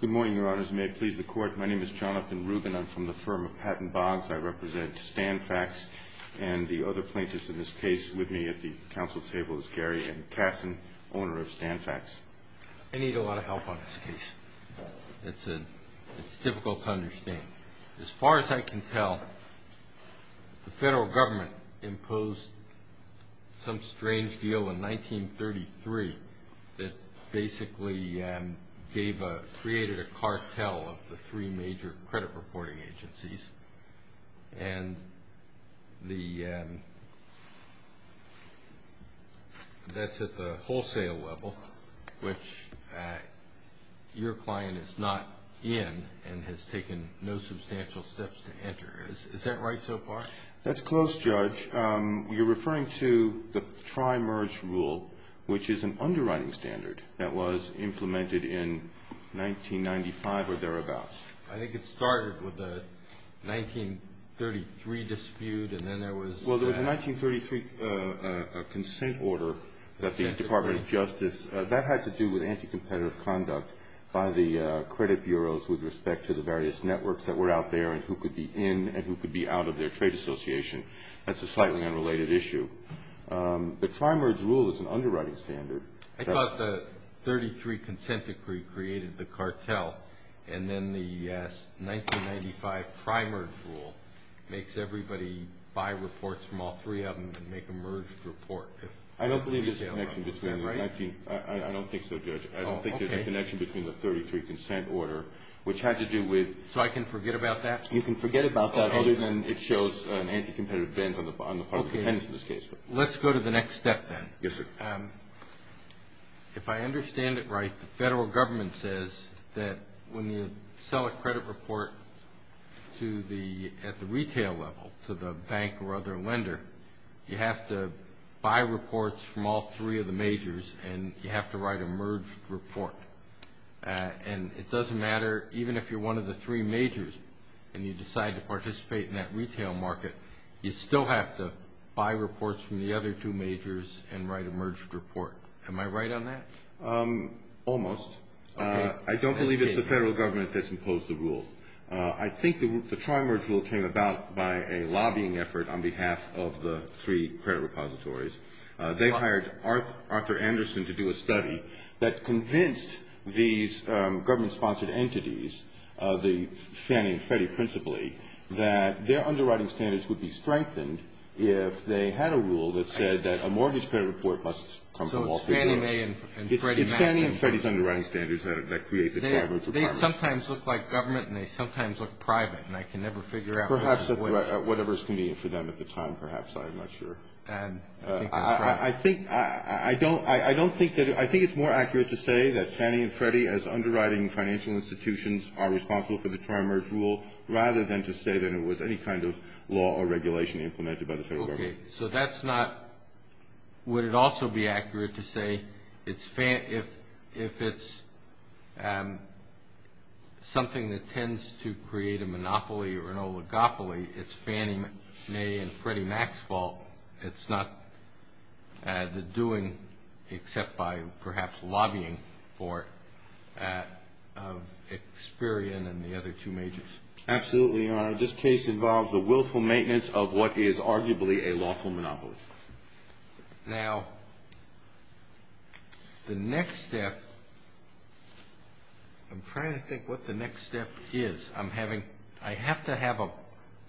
Good morning, Your Honors. May I please the Court? My name is Jonathan Rubin. I'm from the firm of Patent Bonds. I represent Stanfacts, and the other plaintiffs in this case with me at the Council table is Gary M. Kassin, owner of Stanfacts. I need a lot of help on this case. It's difficult to understand. As far as I can tell, the federal government imposed some strange deal in 1933 that basically created a cartel of the three major credit reporting agencies. And that's at the wholesale level, which your client is not in and has taken no substantial steps to enter. Is that right so far? That's close, Judge. You're referring to the Tri-Merge Rule, which is an underwriting standard that was implemented in 1995 or thereabouts. I think it started with the 1933 dispute, and then there was... Well, there was a 1933 consent order that the Department of Justice... Consent decree. That had to do with anti-competitive conduct by the credit bureaus with respect to the various networks that were out there and who could be in and who could be out of their trade association. That's a slightly unrelated issue. The Tri-Merge Rule is an underwriting standard. I thought the 1933 consent decree created the cartel, and then the 1995 Tri-Merge Rule makes everybody buy reports from all three of them and make a merged report. I don't believe there's a connection between... Is that right? I don't think so, Judge. I don't think there's a connection between the 1933 consent order, which had to do with... So I can forget about that? You can forget about that other than it shows an anti-competitive bend on the part of the defendants in this case. Let's go to the next step, then. Yes, sir. If I understand it right, the federal government says that when you sell a credit report at the retail level to the bank or other lender, you have to buy reports from all three of the majors and you have to write a merged report. And it doesn't matter even if you're one of the three majors and you decide to participate in that retail market, you still have to buy reports from the other two majors and write a merged report. Am I right on that? Almost. Okay. I don't believe it's the federal government that's imposed the rule. I think the Tri-Merge Rule came about by a lobbying effort on behalf of the three credit repositories. They hired Arthur Anderson to do a study that convinced these government-sponsored entities, the Fannie and Freddie principally, that their underwriting standards would be strengthened if they had a rule that said that a mortgage credit report must come from all three majors. So it's Fannie Mae and Freddie Madison. It's Fannie and Freddie's underwriting standards that create the Tri-Merge Rule. They sometimes look like government and they sometimes look private, and I can never figure out... Perhaps whatever's convenient for them at the time, perhaps. I'm not sure. I think it's more accurate to say that Fannie and Freddie as underwriting financial institutions are responsible for the Tri-Merge Rule rather than to say that it was any kind of law or regulation implemented by the federal government. Okay. So that's not... It's not Fannie Mae and Freddie Max's fault. It's not the doing, except by perhaps lobbying for it, of Experian and the other two majors. Absolutely, Your Honor. This case involves the willful maintenance of what is arguably a lawful monopoly. Now, the next step, I'm trying to think what the next step is. I'm having... I have to have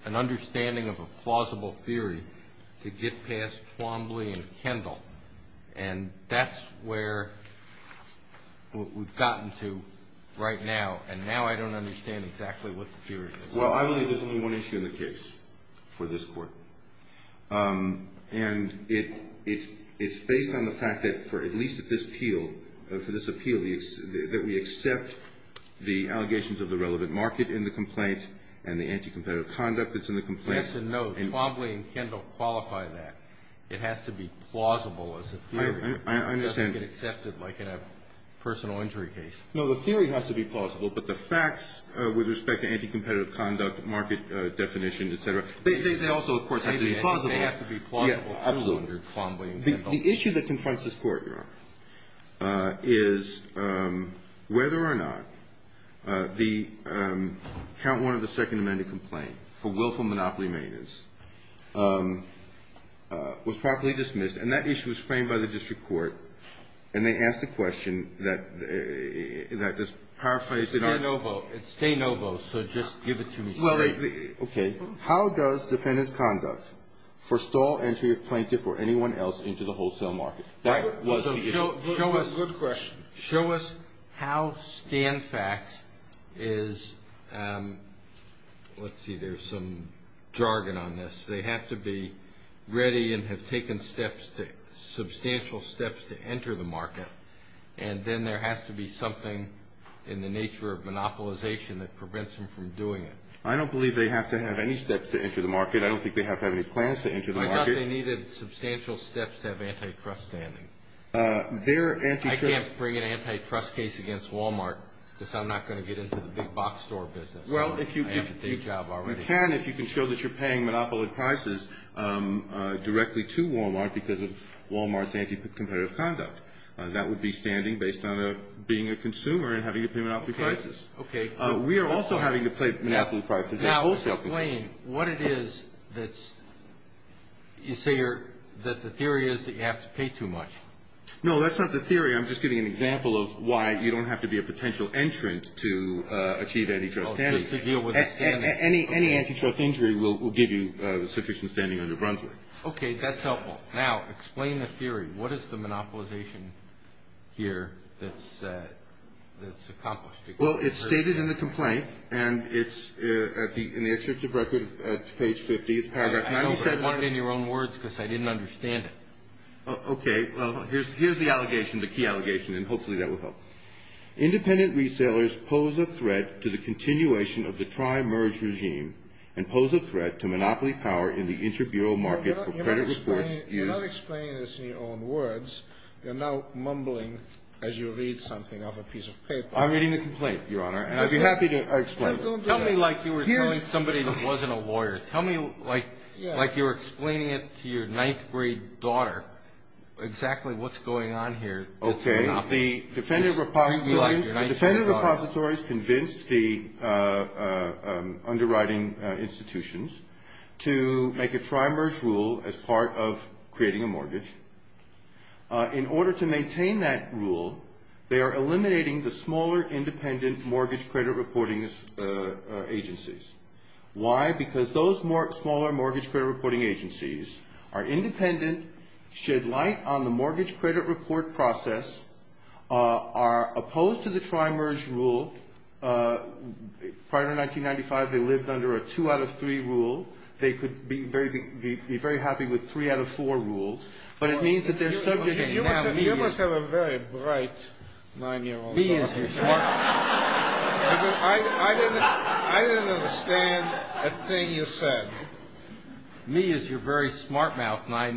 an understanding of a plausible theory to get past Twombly and Kendall, and that's where we've gotten to right now, and now I don't understand exactly what the theory is. Well, I believe there's only one issue in the case for this Court, and it's based on the fact that for at least at this appeal, for this appeal, that we accept the allegations of the relevant market in the complaint and the anti-competitive conduct that's in the complaint. Yes and no. Twombly and Kendall qualify that. It has to be plausible as a theory. I understand. It doesn't get accepted like in a personal injury case. No, the theory has to be plausible, but the facts with respect to anti-competitive conduct, market definition, et cetera, they also, of course, have to be plausible. They have to be plausible. Absolutely. The issue that confronts this Court, Your Honor, is whether or not the Count 1 of the Second Amendment complaint for willful monopoly maintenance was properly dismissed, and that issue was framed by the district court, and they asked a question that just paraphrased. It's de novo. It's de novo, so just give it to me straight. Well, okay. How does defendant's conduct forestall entry of plaintiff or anyone else into the wholesale market? That was the issue. Good question. Show us how Stanfax is, let's see, there's some jargon on this. They have to be ready and have taken substantial steps to enter the market, and then there has to be something in the nature of monopolization that prevents them from doing it. I don't believe they have to have any steps to enter the market. I don't think they have to have any plans to enter the market. I thought they needed substantial steps to have antitrust standing. I can't bring an antitrust case against Wal-Mart because I'm not going to get into the big box store business. Well, if you can, if you can show that you're paying monopoly prices directly to Wal-Mart because of Wal-Mart's anti-competitive conduct, that would be standing based on being a consumer and having to pay monopoly prices. Okay. We are also having to pay monopoly prices. Now, explain what it is that's, you say that the theory is that you have to pay too much. No, that's not the theory. I'm just giving an example of why you don't have to be a potential entrant to achieve antitrust standing. Any antitrust injury will give you sufficient standing under Brunswick. Okay, that's helpful. Now, explain the theory. What is the monopolization here that's accomplished? Well, it's stated in the complaint, and it's in the excerpt of record at page 50. I know, but I want it in your own words because I didn't understand it. Okay. Well, here's the allegation, the key allegation, and hopefully that will help. Independent resailers pose a threat to the continuation of the tri-merge regime and pose a threat to monopoly power in the inter-bureau market for credit reports. You're not explaining this in your own words. You're now mumbling as you read something off a piece of paper. I'm reading the complaint, Your Honor, and I'd be happy to explain it. Tell me like you were telling somebody who wasn't a lawyer. Tell me like you were explaining it to your ninth-grade daughter exactly what's going on here. Okay. The Defender Repository has convinced the underwriting institutions to make a tri-merge rule as part of creating a mortgage. In order to maintain that rule, they are eliminating the smaller independent mortgage credit reporting agencies. Why? Because those smaller mortgage credit reporting agencies are independent, shed light on the mortgage credit report process, are opposed to the tri-merge rule. Prior to 1995, they lived under a two-out-of-three rule. They could be very happy with three-out-of-four rules. But it means that they're subject to now media. You must have a very bright nine-year-old daughter. I didn't understand a thing you said. Media is your very smart mouth. My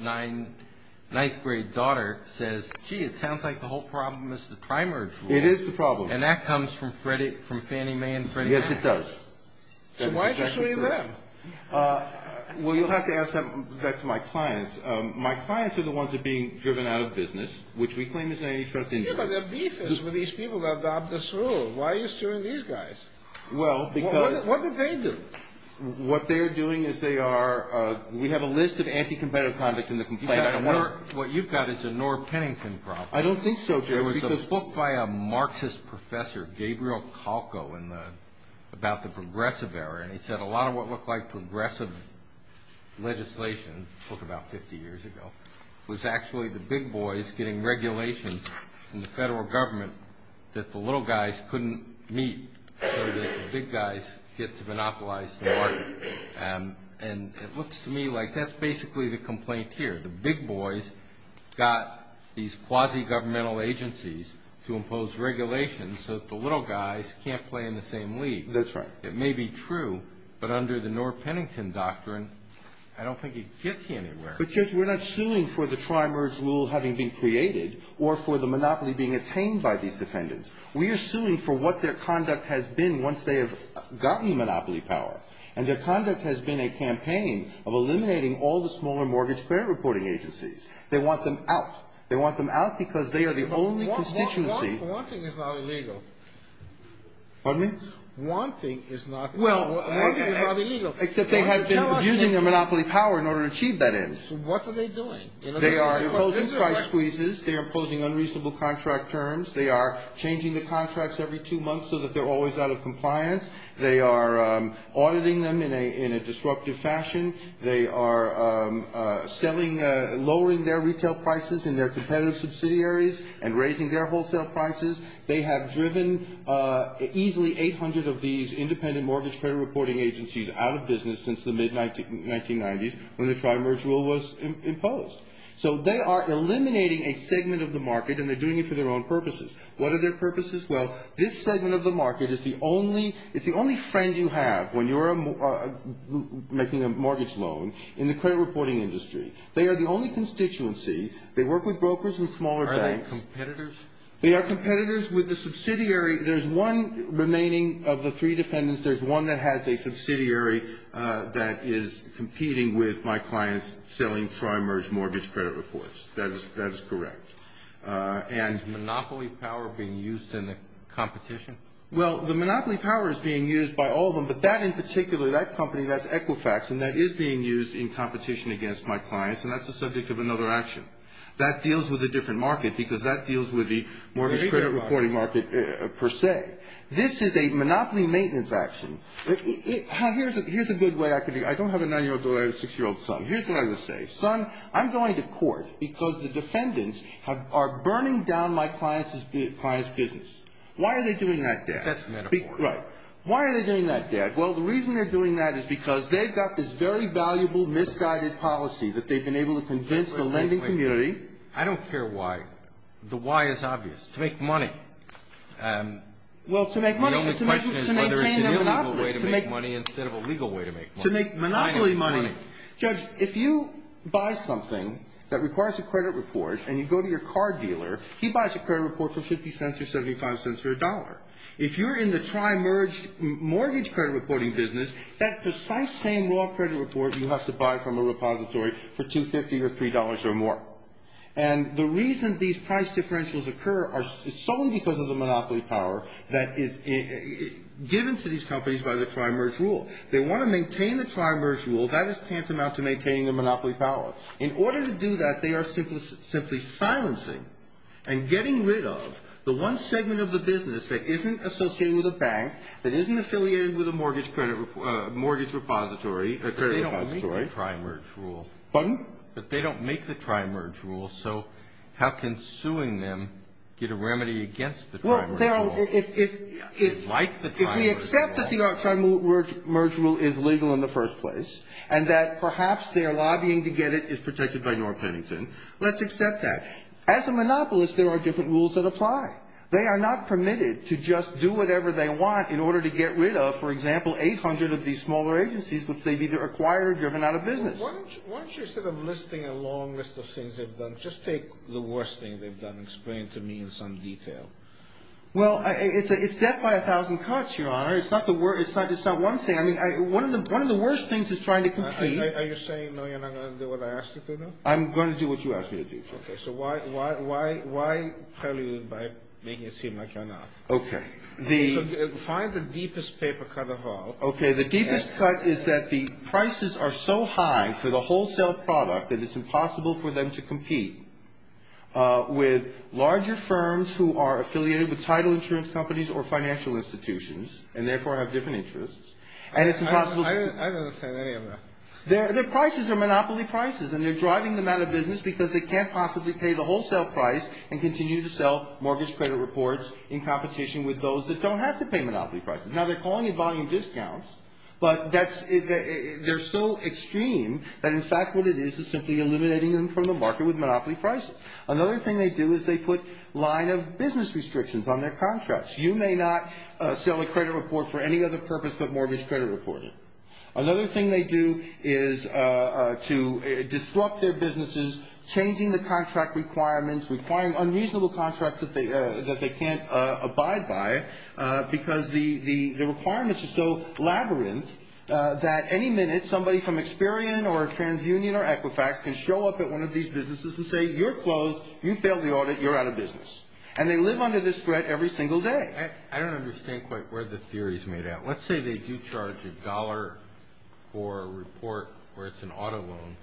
ninth-grade daughter says, gee, it sounds like the whole problem is the tri-merge rule. It is the problem. And that comes from Fannie Mae and Freddie Mac. Yes, it does. So why are you suing them? Well, you'll have to ask that back to my clients. My clients are the ones that are being driven out of business, which we claim is an antitrust injury. Yeah, but they're beefists with these people that adopted this rule. Why are you suing these guys? Well, because – What did they do? What they're doing is they are – we have a list of anti-competitive conduct in the complaint. What you've got is a Nora Pennington problem. I don't think so, Judge. There was a book by a Marxist professor, Gabriel Kalko, about the progressive era, and he said a lot of what looked like progressive legislation, a book about 50 years ago, was actually the big boys getting regulations from the federal government that the little guys couldn't meet so that the big guys get to monopolize the market. And it looks to me like that's basically the complaint here. The big boys got these quasi-governmental agencies to impose regulations so that the little guys can't play in the same league. That's right. It may be true, but under the Nora Pennington doctrine, I don't think it gets you anywhere. But, Judge, we're not suing for the tri-merge rule having been created or for the monopoly being attained by these defendants. We are suing for what their conduct has been once they have gotten monopoly power, and their conduct has been a campaign of eliminating all the smaller mortgage credit reporting agencies. They want them out. They want them out because they are the only constituency. But wanting is not illegal. Pardon me? Wanting is not illegal. Well, except they have been using their monopoly power in order to achieve that end. So what are they doing? They are imposing price squeezes. They are imposing unreasonable contract terms. They are changing the contracts every two months so that they're always out of compliance. They are auditing them in a disruptive fashion. They are lowering their retail prices and their competitive subsidiaries and raising their wholesale prices. They have driven easily 800 of these independent mortgage credit reporting agencies out of business since the mid-1990s when the tri-merge rule was imposed. So they are eliminating a segment of the market, and they're doing it for their own purposes. What are their purposes? Well, this segment of the market is the only friend you have when you're making a mortgage loan in the credit reporting industry. They are the only constituency. They work with brokers and smaller banks. Are they competitors? They are competitors with the subsidiary. There's one remaining of the three defendants. There's one that has a subsidiary that is competing with my clients selling tri-merge mortgage credit reports. That is correct. Is monopoly power being used in the competition? Well, the monopoly power is being used by all of them, but that in particular, that company, that's Equifax, and that is being used in competition against my clients, and that's the subject of another action. That deals with a different market because that deals with the mortgage credit reporting market per se. This is a monopoly maintenance action. Here's a good way I could be – I don't have a 9-year-old daughter. I have a 6-year-old son. Here's what I would say. Son, I'm going to court because the defendants are burning down my client's business. Why are they doing that, Dad? That's metaphoric. Right. Why are they doing that, Dad? Well, the reason they're doing that is because they've got this very valuable misguided policy that they've been able to convince the lending community. Wait, wait, wait. I don't care why. The why is obvious. To make money. Well, to make money. The only question is whether it's an illegal way to make money instead of a legal way to make money. To make monopoly money. Judge, if you buy something that requires a credit report and you go to your car dealer, he buys a credit report for 50 cents or 75 cents or a dollar. If you're in the tri-merged mortgage credit reporting business, that precise same raw credit report you have to buy from a repository for $2.50 or $3.00 or more. And the reason these price differentials occur is solely because of the monopoly power that is given to these companies by the tri-merged rule. They want to maintain the tri-merged rule. That is tantamount to maintaining the monopoly power. In order to do that, they are simply silencing and getting rid of the one segment of the business that isn't associated with a bank, that isn't affiliated with a mortgage repository. But they don't make the tri-merged rule. Pardon? But they don't make the tri-merged rule, so how can suing them get a remedy against the tri-merged rule? If we accept that the tri-merged rule is legal in the first place and that perhaps their lobbying to get it is protected by North Pennington, let's accept that. As a monopolist, there are different rules that apply. They are not permitted to just do whatever they want in order to get rid of, for example, 800 of these smaller agencies that they've either acquired or driven out of business. Why don't you, instead of listing a long list of things they've done, just take the worst thing they've done and explain it to me in some detail. Well, it's death by 1,000 cuts, Your Honor. It's not one thing. I mean, one of the worst things is trying to compete. Are you saying, no, you're not going to do what I asked you to do? I'm going to do what you asked me to do. Okay. So why tell me by making it seem like you're not? Okay. So find the deepest paper cut of all. I don't understand any of that. Their prices are monopoly prices, and they're driving them out of business because they can't possibly pay the wholesale price and continue to sell mortgage credit reports in competition with those that don't have to pay monopoly prices. Now, they're calling it volume discounts, but that's they're so extreme that, in fact, what it is is simply eliminating them from the market with monopoly prices. Another thing they do is they put a line of business restrictions on their contracts. You may not sell a credit report for any other purpose but mortgage credit reporting. Another thing they do is to disrupt their businesses, changing the contract requirements, requiring unreasonable contracts that they can't abide by, because the requirements are so labyrinth that any minute somebody from Experian or TransUnion or Equifax can show up at one of these businesses and say, you're closed, you failed the audit, you're out of business. And they live under this threat every single day. I don't understand quite where the theory is made at. Let's say they do charge a dollar for a report where it's an auto loan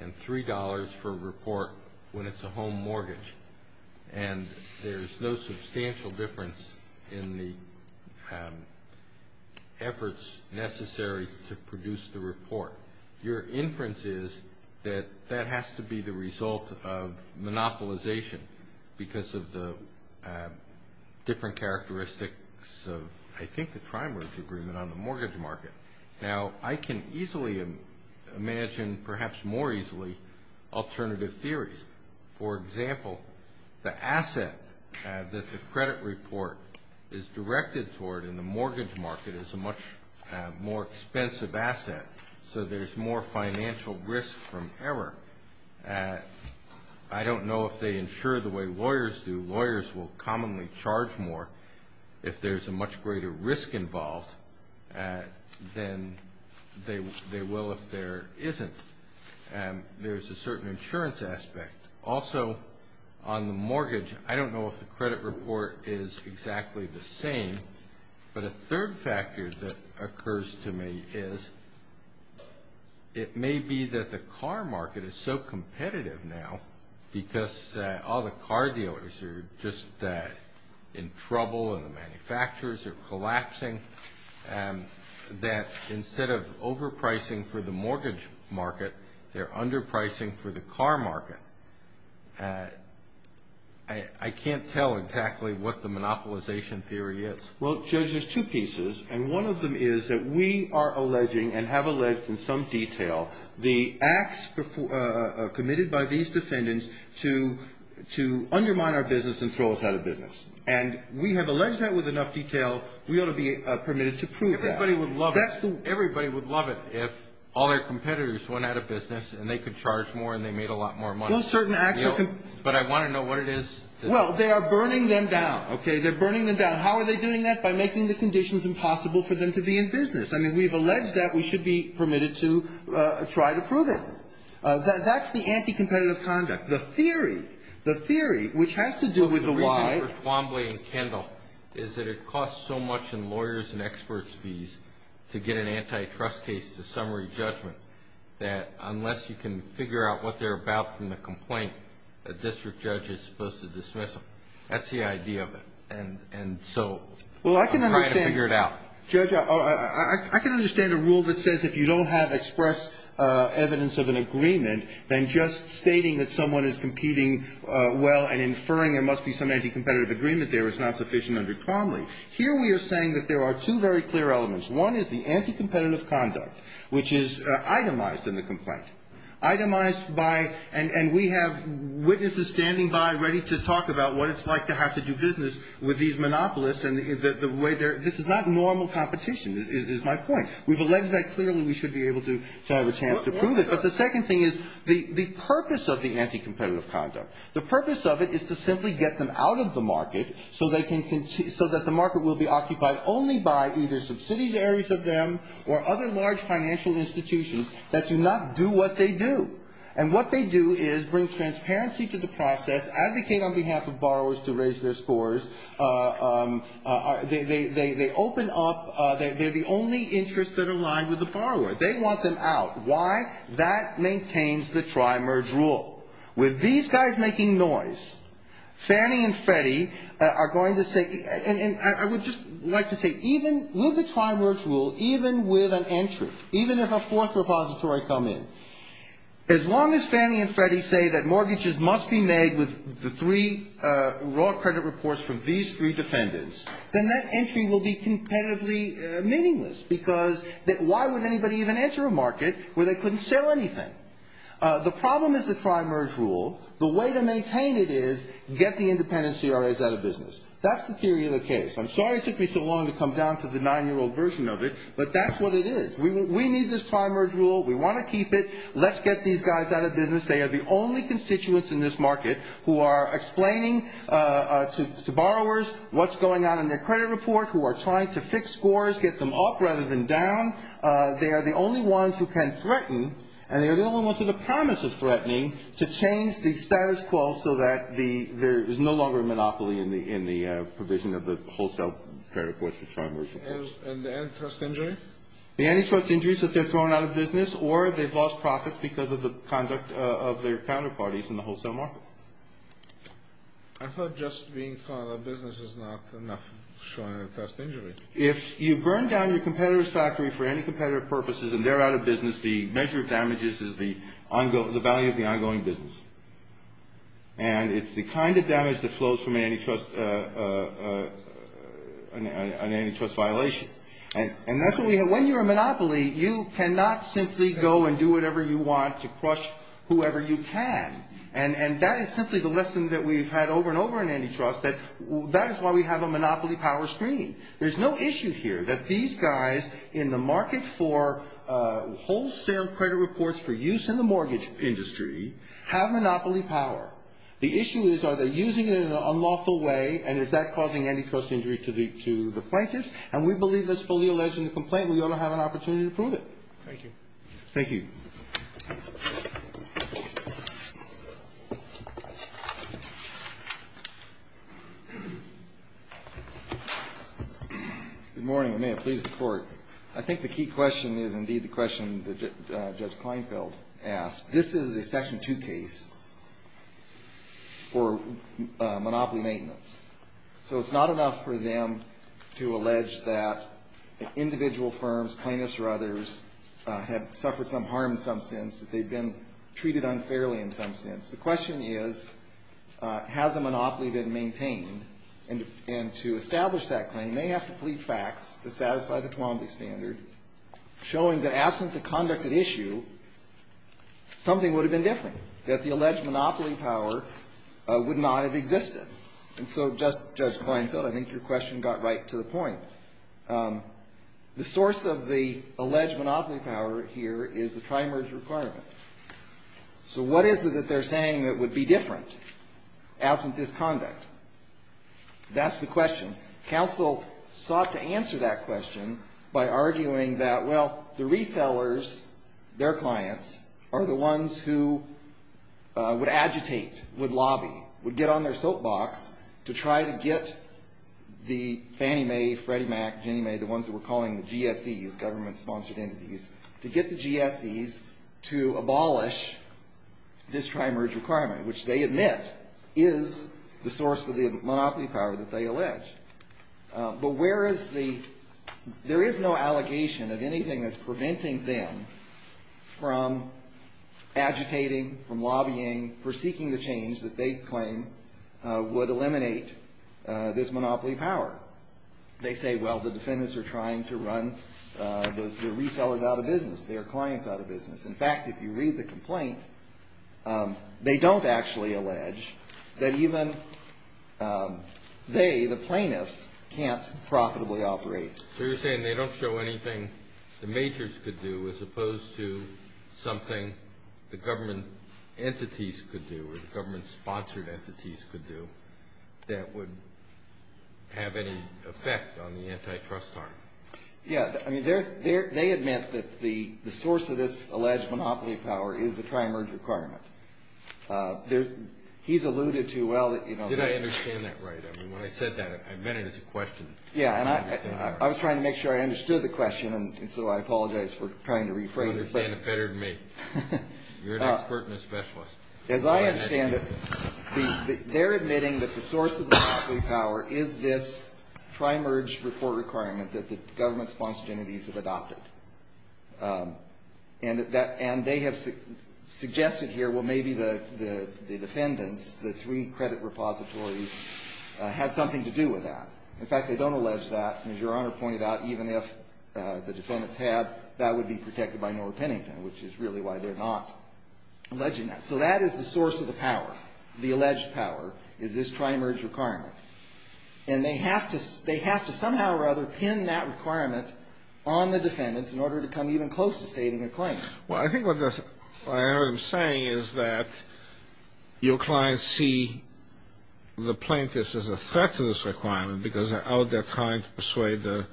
and $3 for a report when it's a home mortgage, and there's no substantial difference in the efforts necessary to produce the report. Your inference is that that has to be the result of monopolization because of the different characteristics of, I think, the prime mortgage agreement on the mortgage market. Now, I can easily imagine, perhaps more easily, alternative theories. For example, the asset that the credit report is directed toward in the mortgage market is a much more expensive asset, so there's more financial risk from error. I don't know if they insure the way lawyers do. Lawyers will commonly charge more if there's a much greater risk involved than they will if there isn't. There's a certain insurance aspect. Also, on the mortgage, I don't know if the credit report is exactly the same, but a third factor that occurs to me is it may be that the car market is so competitive now because, oh, the car dealers are just in trouble and the manufacturers are collapsing, that instead of overpricing for the mortgage market, they're underpricing for the car market. I can't tell exactly what the monopolization theory is. Well, Judge, there's two pieces, and one of them is that we are alleging and have alleged in some detail the acts committed by these defendants to undermine our business and throw us out of business. And we have alleged that with enough detail, we ought to be permitted to prove that. Everybody would love it if all their competitors went out of business and they could charge more and they made a lot more money. Well, certain acts are... But I want to know what it is. Well, they are burning them down, okay? They're burning them down. How are they doing that? By making the conditions impossible for them to be in business. I mean, we've alleged that. We should be permitted to try to prove it. That's the anti-competitive conduct. The theory, the theory, which has to do with the why... Well, the reason for Twombly and Kendall is that it costs so much in lawyers' and experts' fees to get an antitrust case to summary judgment that unless you can figure out what they're about from the complaint, a district judge is supposed to dismiss them. That's the idea of it. And so... Well, I can understand... I'm trying to figure it out. Judge, I can understand a rule that says if you don't have express evidence of an agreement, then just stating that someone is competing well and inferring there must be some anti-competitive agreement there is not sufficient under Twombly. Here we are saying that there are two very clear elements. One is the anti-competitive conduct, which is itemized in the complaint. Itemized by... And we have witnesses standing by ready to talk about what it's like to have to do business with these monopolists and the way they're... This is not normal competition, is my point. We've alleged that clearly we should be able to have a chance to prove it. But the second thing is the purpose of the anti-competitive conduct. The purpose of it is to simply get them out of the market so that the market will be occupied only by either subsidiaries of them or other large financial institutions that do not do what they do. And what they do is bring transparency to the process, advocate on behalf of borrowers to raise their scores. They open up... They're the only interests that are aligned with the borrower. They want them out. Why? That maintains the tri-merge rule. With these guys making noise, Fannie and Freddie are going to say... And I would just like to say even with the tri-merge rule, even with an entry, even if a fourth repository come in, as long as Fannie and Freddie say that mortgages must be made with the three raw credit reports from these three defendants, then that entry will be competitively meaningless because why would anybody even enter a market where they couldn't sell anything? The problem is the tri-merge rule. The way to maintain it is get the independent CRAs out of business. That's the theory of the case. I'm sorry it took me so long to come down to the nine-year-old version of it, but that's what it is. We need this tri-merge rule. We want to keep it. Let's get these guys out of business. They are the only constituents in this market who are explaining to borrowers what's going on in their credit report, who are trying to fix scores, get them up rather than down. They are the only ones who can threaten, and they are the only ones who the promise of threatening, to change the status quo so that there is no longer a monopoly in the provision of the wholesale credit reports for tri-merge reports. And the antitrust injury? The antitrust injury is that they're thrown out of business, or they've lost profits because of the conduct of their counterparties in the wholesale market. I thought just being thrown out of business is not enough to show an antitrust injury. If you burn down your competitor's factory for anticompetitive purposes and they're out of business, the measure of damages is the value of the ongoing business. And it's the kind of damage that flows from an antitrust violation. And that's what we have. When you're a monopoly, you cannot simply go and do whatever you want to crush whoever you can. And that is simply the lesson that we've had over and over in antitrust, that that is why we have a monopoly power screen. There's no issue here that these guys in the market for wholesale credit reports for use in the mortgage industry have monopoly power. The issue is are they using it in an unlawful way, and is that causing antitrust injury to the plaintiffs? And we believe that's fully alleged in the complaint, and we ought to have an opportunity to prove it. Thank you. Thank you. Good morning, and may it please the Court. I think the key question is indeed the question that Judge Kleinfeld asked. This is a Section 2 case for monopoly maintenance. So it's not enough for them to allege that individual firms, plaintiffs or others, have suffered some harm in some sense, that they've been treated unfairly in some sense. The question is, has a monopoly been maintained? And to establish that claim, they have to plead facts to satisfy the Twombly standard, showing that absent the conduct at issue, something would have been different, that the alleged monopoly power would not have existed. And so, Judge Kleinfeld, I think your question got right to the point. The source of the alleged monopoly power here is the tri-merge requirement. So what is it that they're saying that would be different absent this conduct? That's the question. Counsel sought to answer that question by arguing that, well, the resellers, their clients, are the ones who would agitate, would lobby, would get on their soapbox to try to get the Fannie Mae, Freddie Mac, Ginnie Mae, the ones that we're calling the GSEs, government-sponsored entities, to get the GSEs to abolish this tri-merge requirement, which they admit is the source of the monopoly power that they allege. But where is the, there is no allegation of anything that's preventing them from agitating, from lobbying, for seeking the change that they claim would eliminate this monopoly power. They say, well, the defendants are trying to run the resellers out of business, their clients out of business. In fact, if you read the complaint, they don't actually allege that even they, the plaintiffs, can't profitably operate. So you're saying they don't show anything the majors could do, as opposed to something the government entities could do, or the government-sponsored entities could do, that would have any effect on the antitrust arm? Yeah. I mean, they admit that the source of this alleged monopoly power is the tri-merge requirement. He's alluded to, well, you know. Did I understand that right? I mean, when I said that, I meant it as a question. Yeah, and I was trying to make sure I understood the question, and so I apologize for trying to rephrase it. You understand it better than me. You're an expert and a specialist. As I understand it, they're admitting that the source of the monopoly power is this tri-merge report requirement that the government-sponsored entities have adopted. So maybe the defendants, the three credit repositories, had something to do with that. In fact, they don't allege that. And as Your Honor pointed out, even if the defendants had, that would be protected by Norah Pennington, which is really why they're not alleging that. So that is the source of the power, the alleged power, is this tri-merge requirement. And they have to somehow or other pin that requirement on the defendants in order to come even close to stating a claim. Well, I think what I am saying is that your clients see the plaintiffs as a threat to this requirement, because they're out there trying to persuade the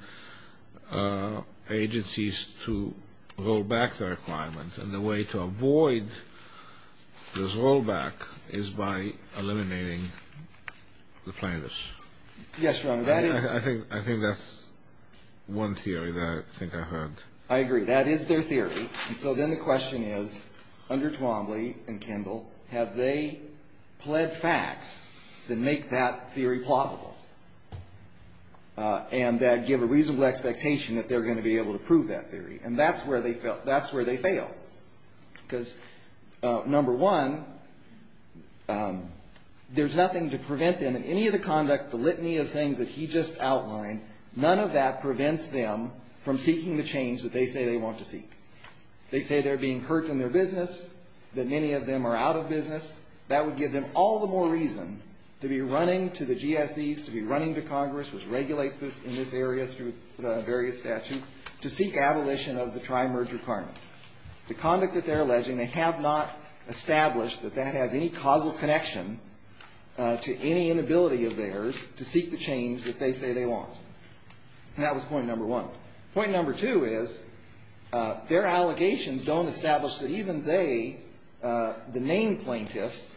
agencies to roll back their requirement. And the way to avoid this rollback is by eliminating the plaintiffs. Yes, Your Honor. I think that's one theory that I think I heard. I agree. That is their theory. And so then the question is, under Twombly and Kendall, have they pled facts that make that theory plausible, and that give a reasonable expectation that they're going to be able to prove that theory? And that's where they fail. Because, number one, there's nothing to prevent them in any of the conduct, the litany of things that he just outlined, none of that prevents them from seeking the change that they say they want to seek. They say they're being hurt in their business, that many of them are out of business. That would give them all the more reason to be running to the GSEs, to be running to Congress, which regulates this in this area through the various statutes, to seek abolition of the tri-merge requirement. The conduct that they're alleging, they have not established that that has any causal connection to any inability of theirs to seek the change that they say they want. And that was point number one. Point number two is, their allegations don't establish that even they, the named plaintiffs,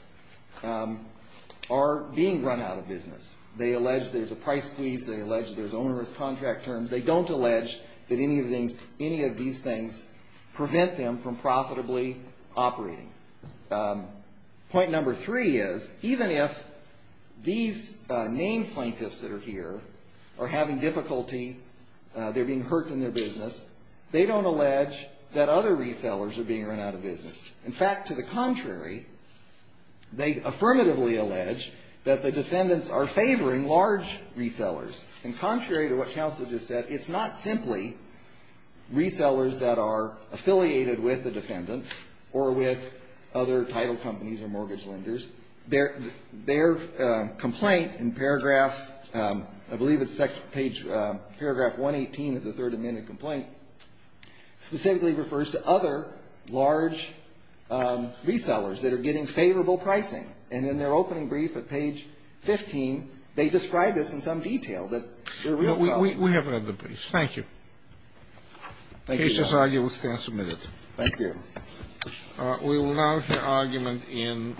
are being run out of business. They allege there's a price squeeze. They allege there's onerous contract terms. They don't allege that any of these things prevent them from profitably operating. Point number three is, even if these named plaintiffs that are here are having difficulty, they're being hurt in their business, they don't allege that other resellers are being run out of business. In fact, to the contrary, they affirmatively allege that the defendants are favoring large resellers. And contrary to what counsel just said, it's not simply resellers that are affiliated with the defendants or with other title companies or mortgage lenders. Their complaint in paragraph, I believe it's page, paragraph 118 of the Third Amendment complaint, specifically refers to other large resellers that are getting favorable pricing. And in their opening brief at page 15, they describe this in some detail. That they're a real problem. We have read the brief. Thank you. Thank you, Your Honor. Case as argued will stand submitted. Thank you. We will now hear argument in.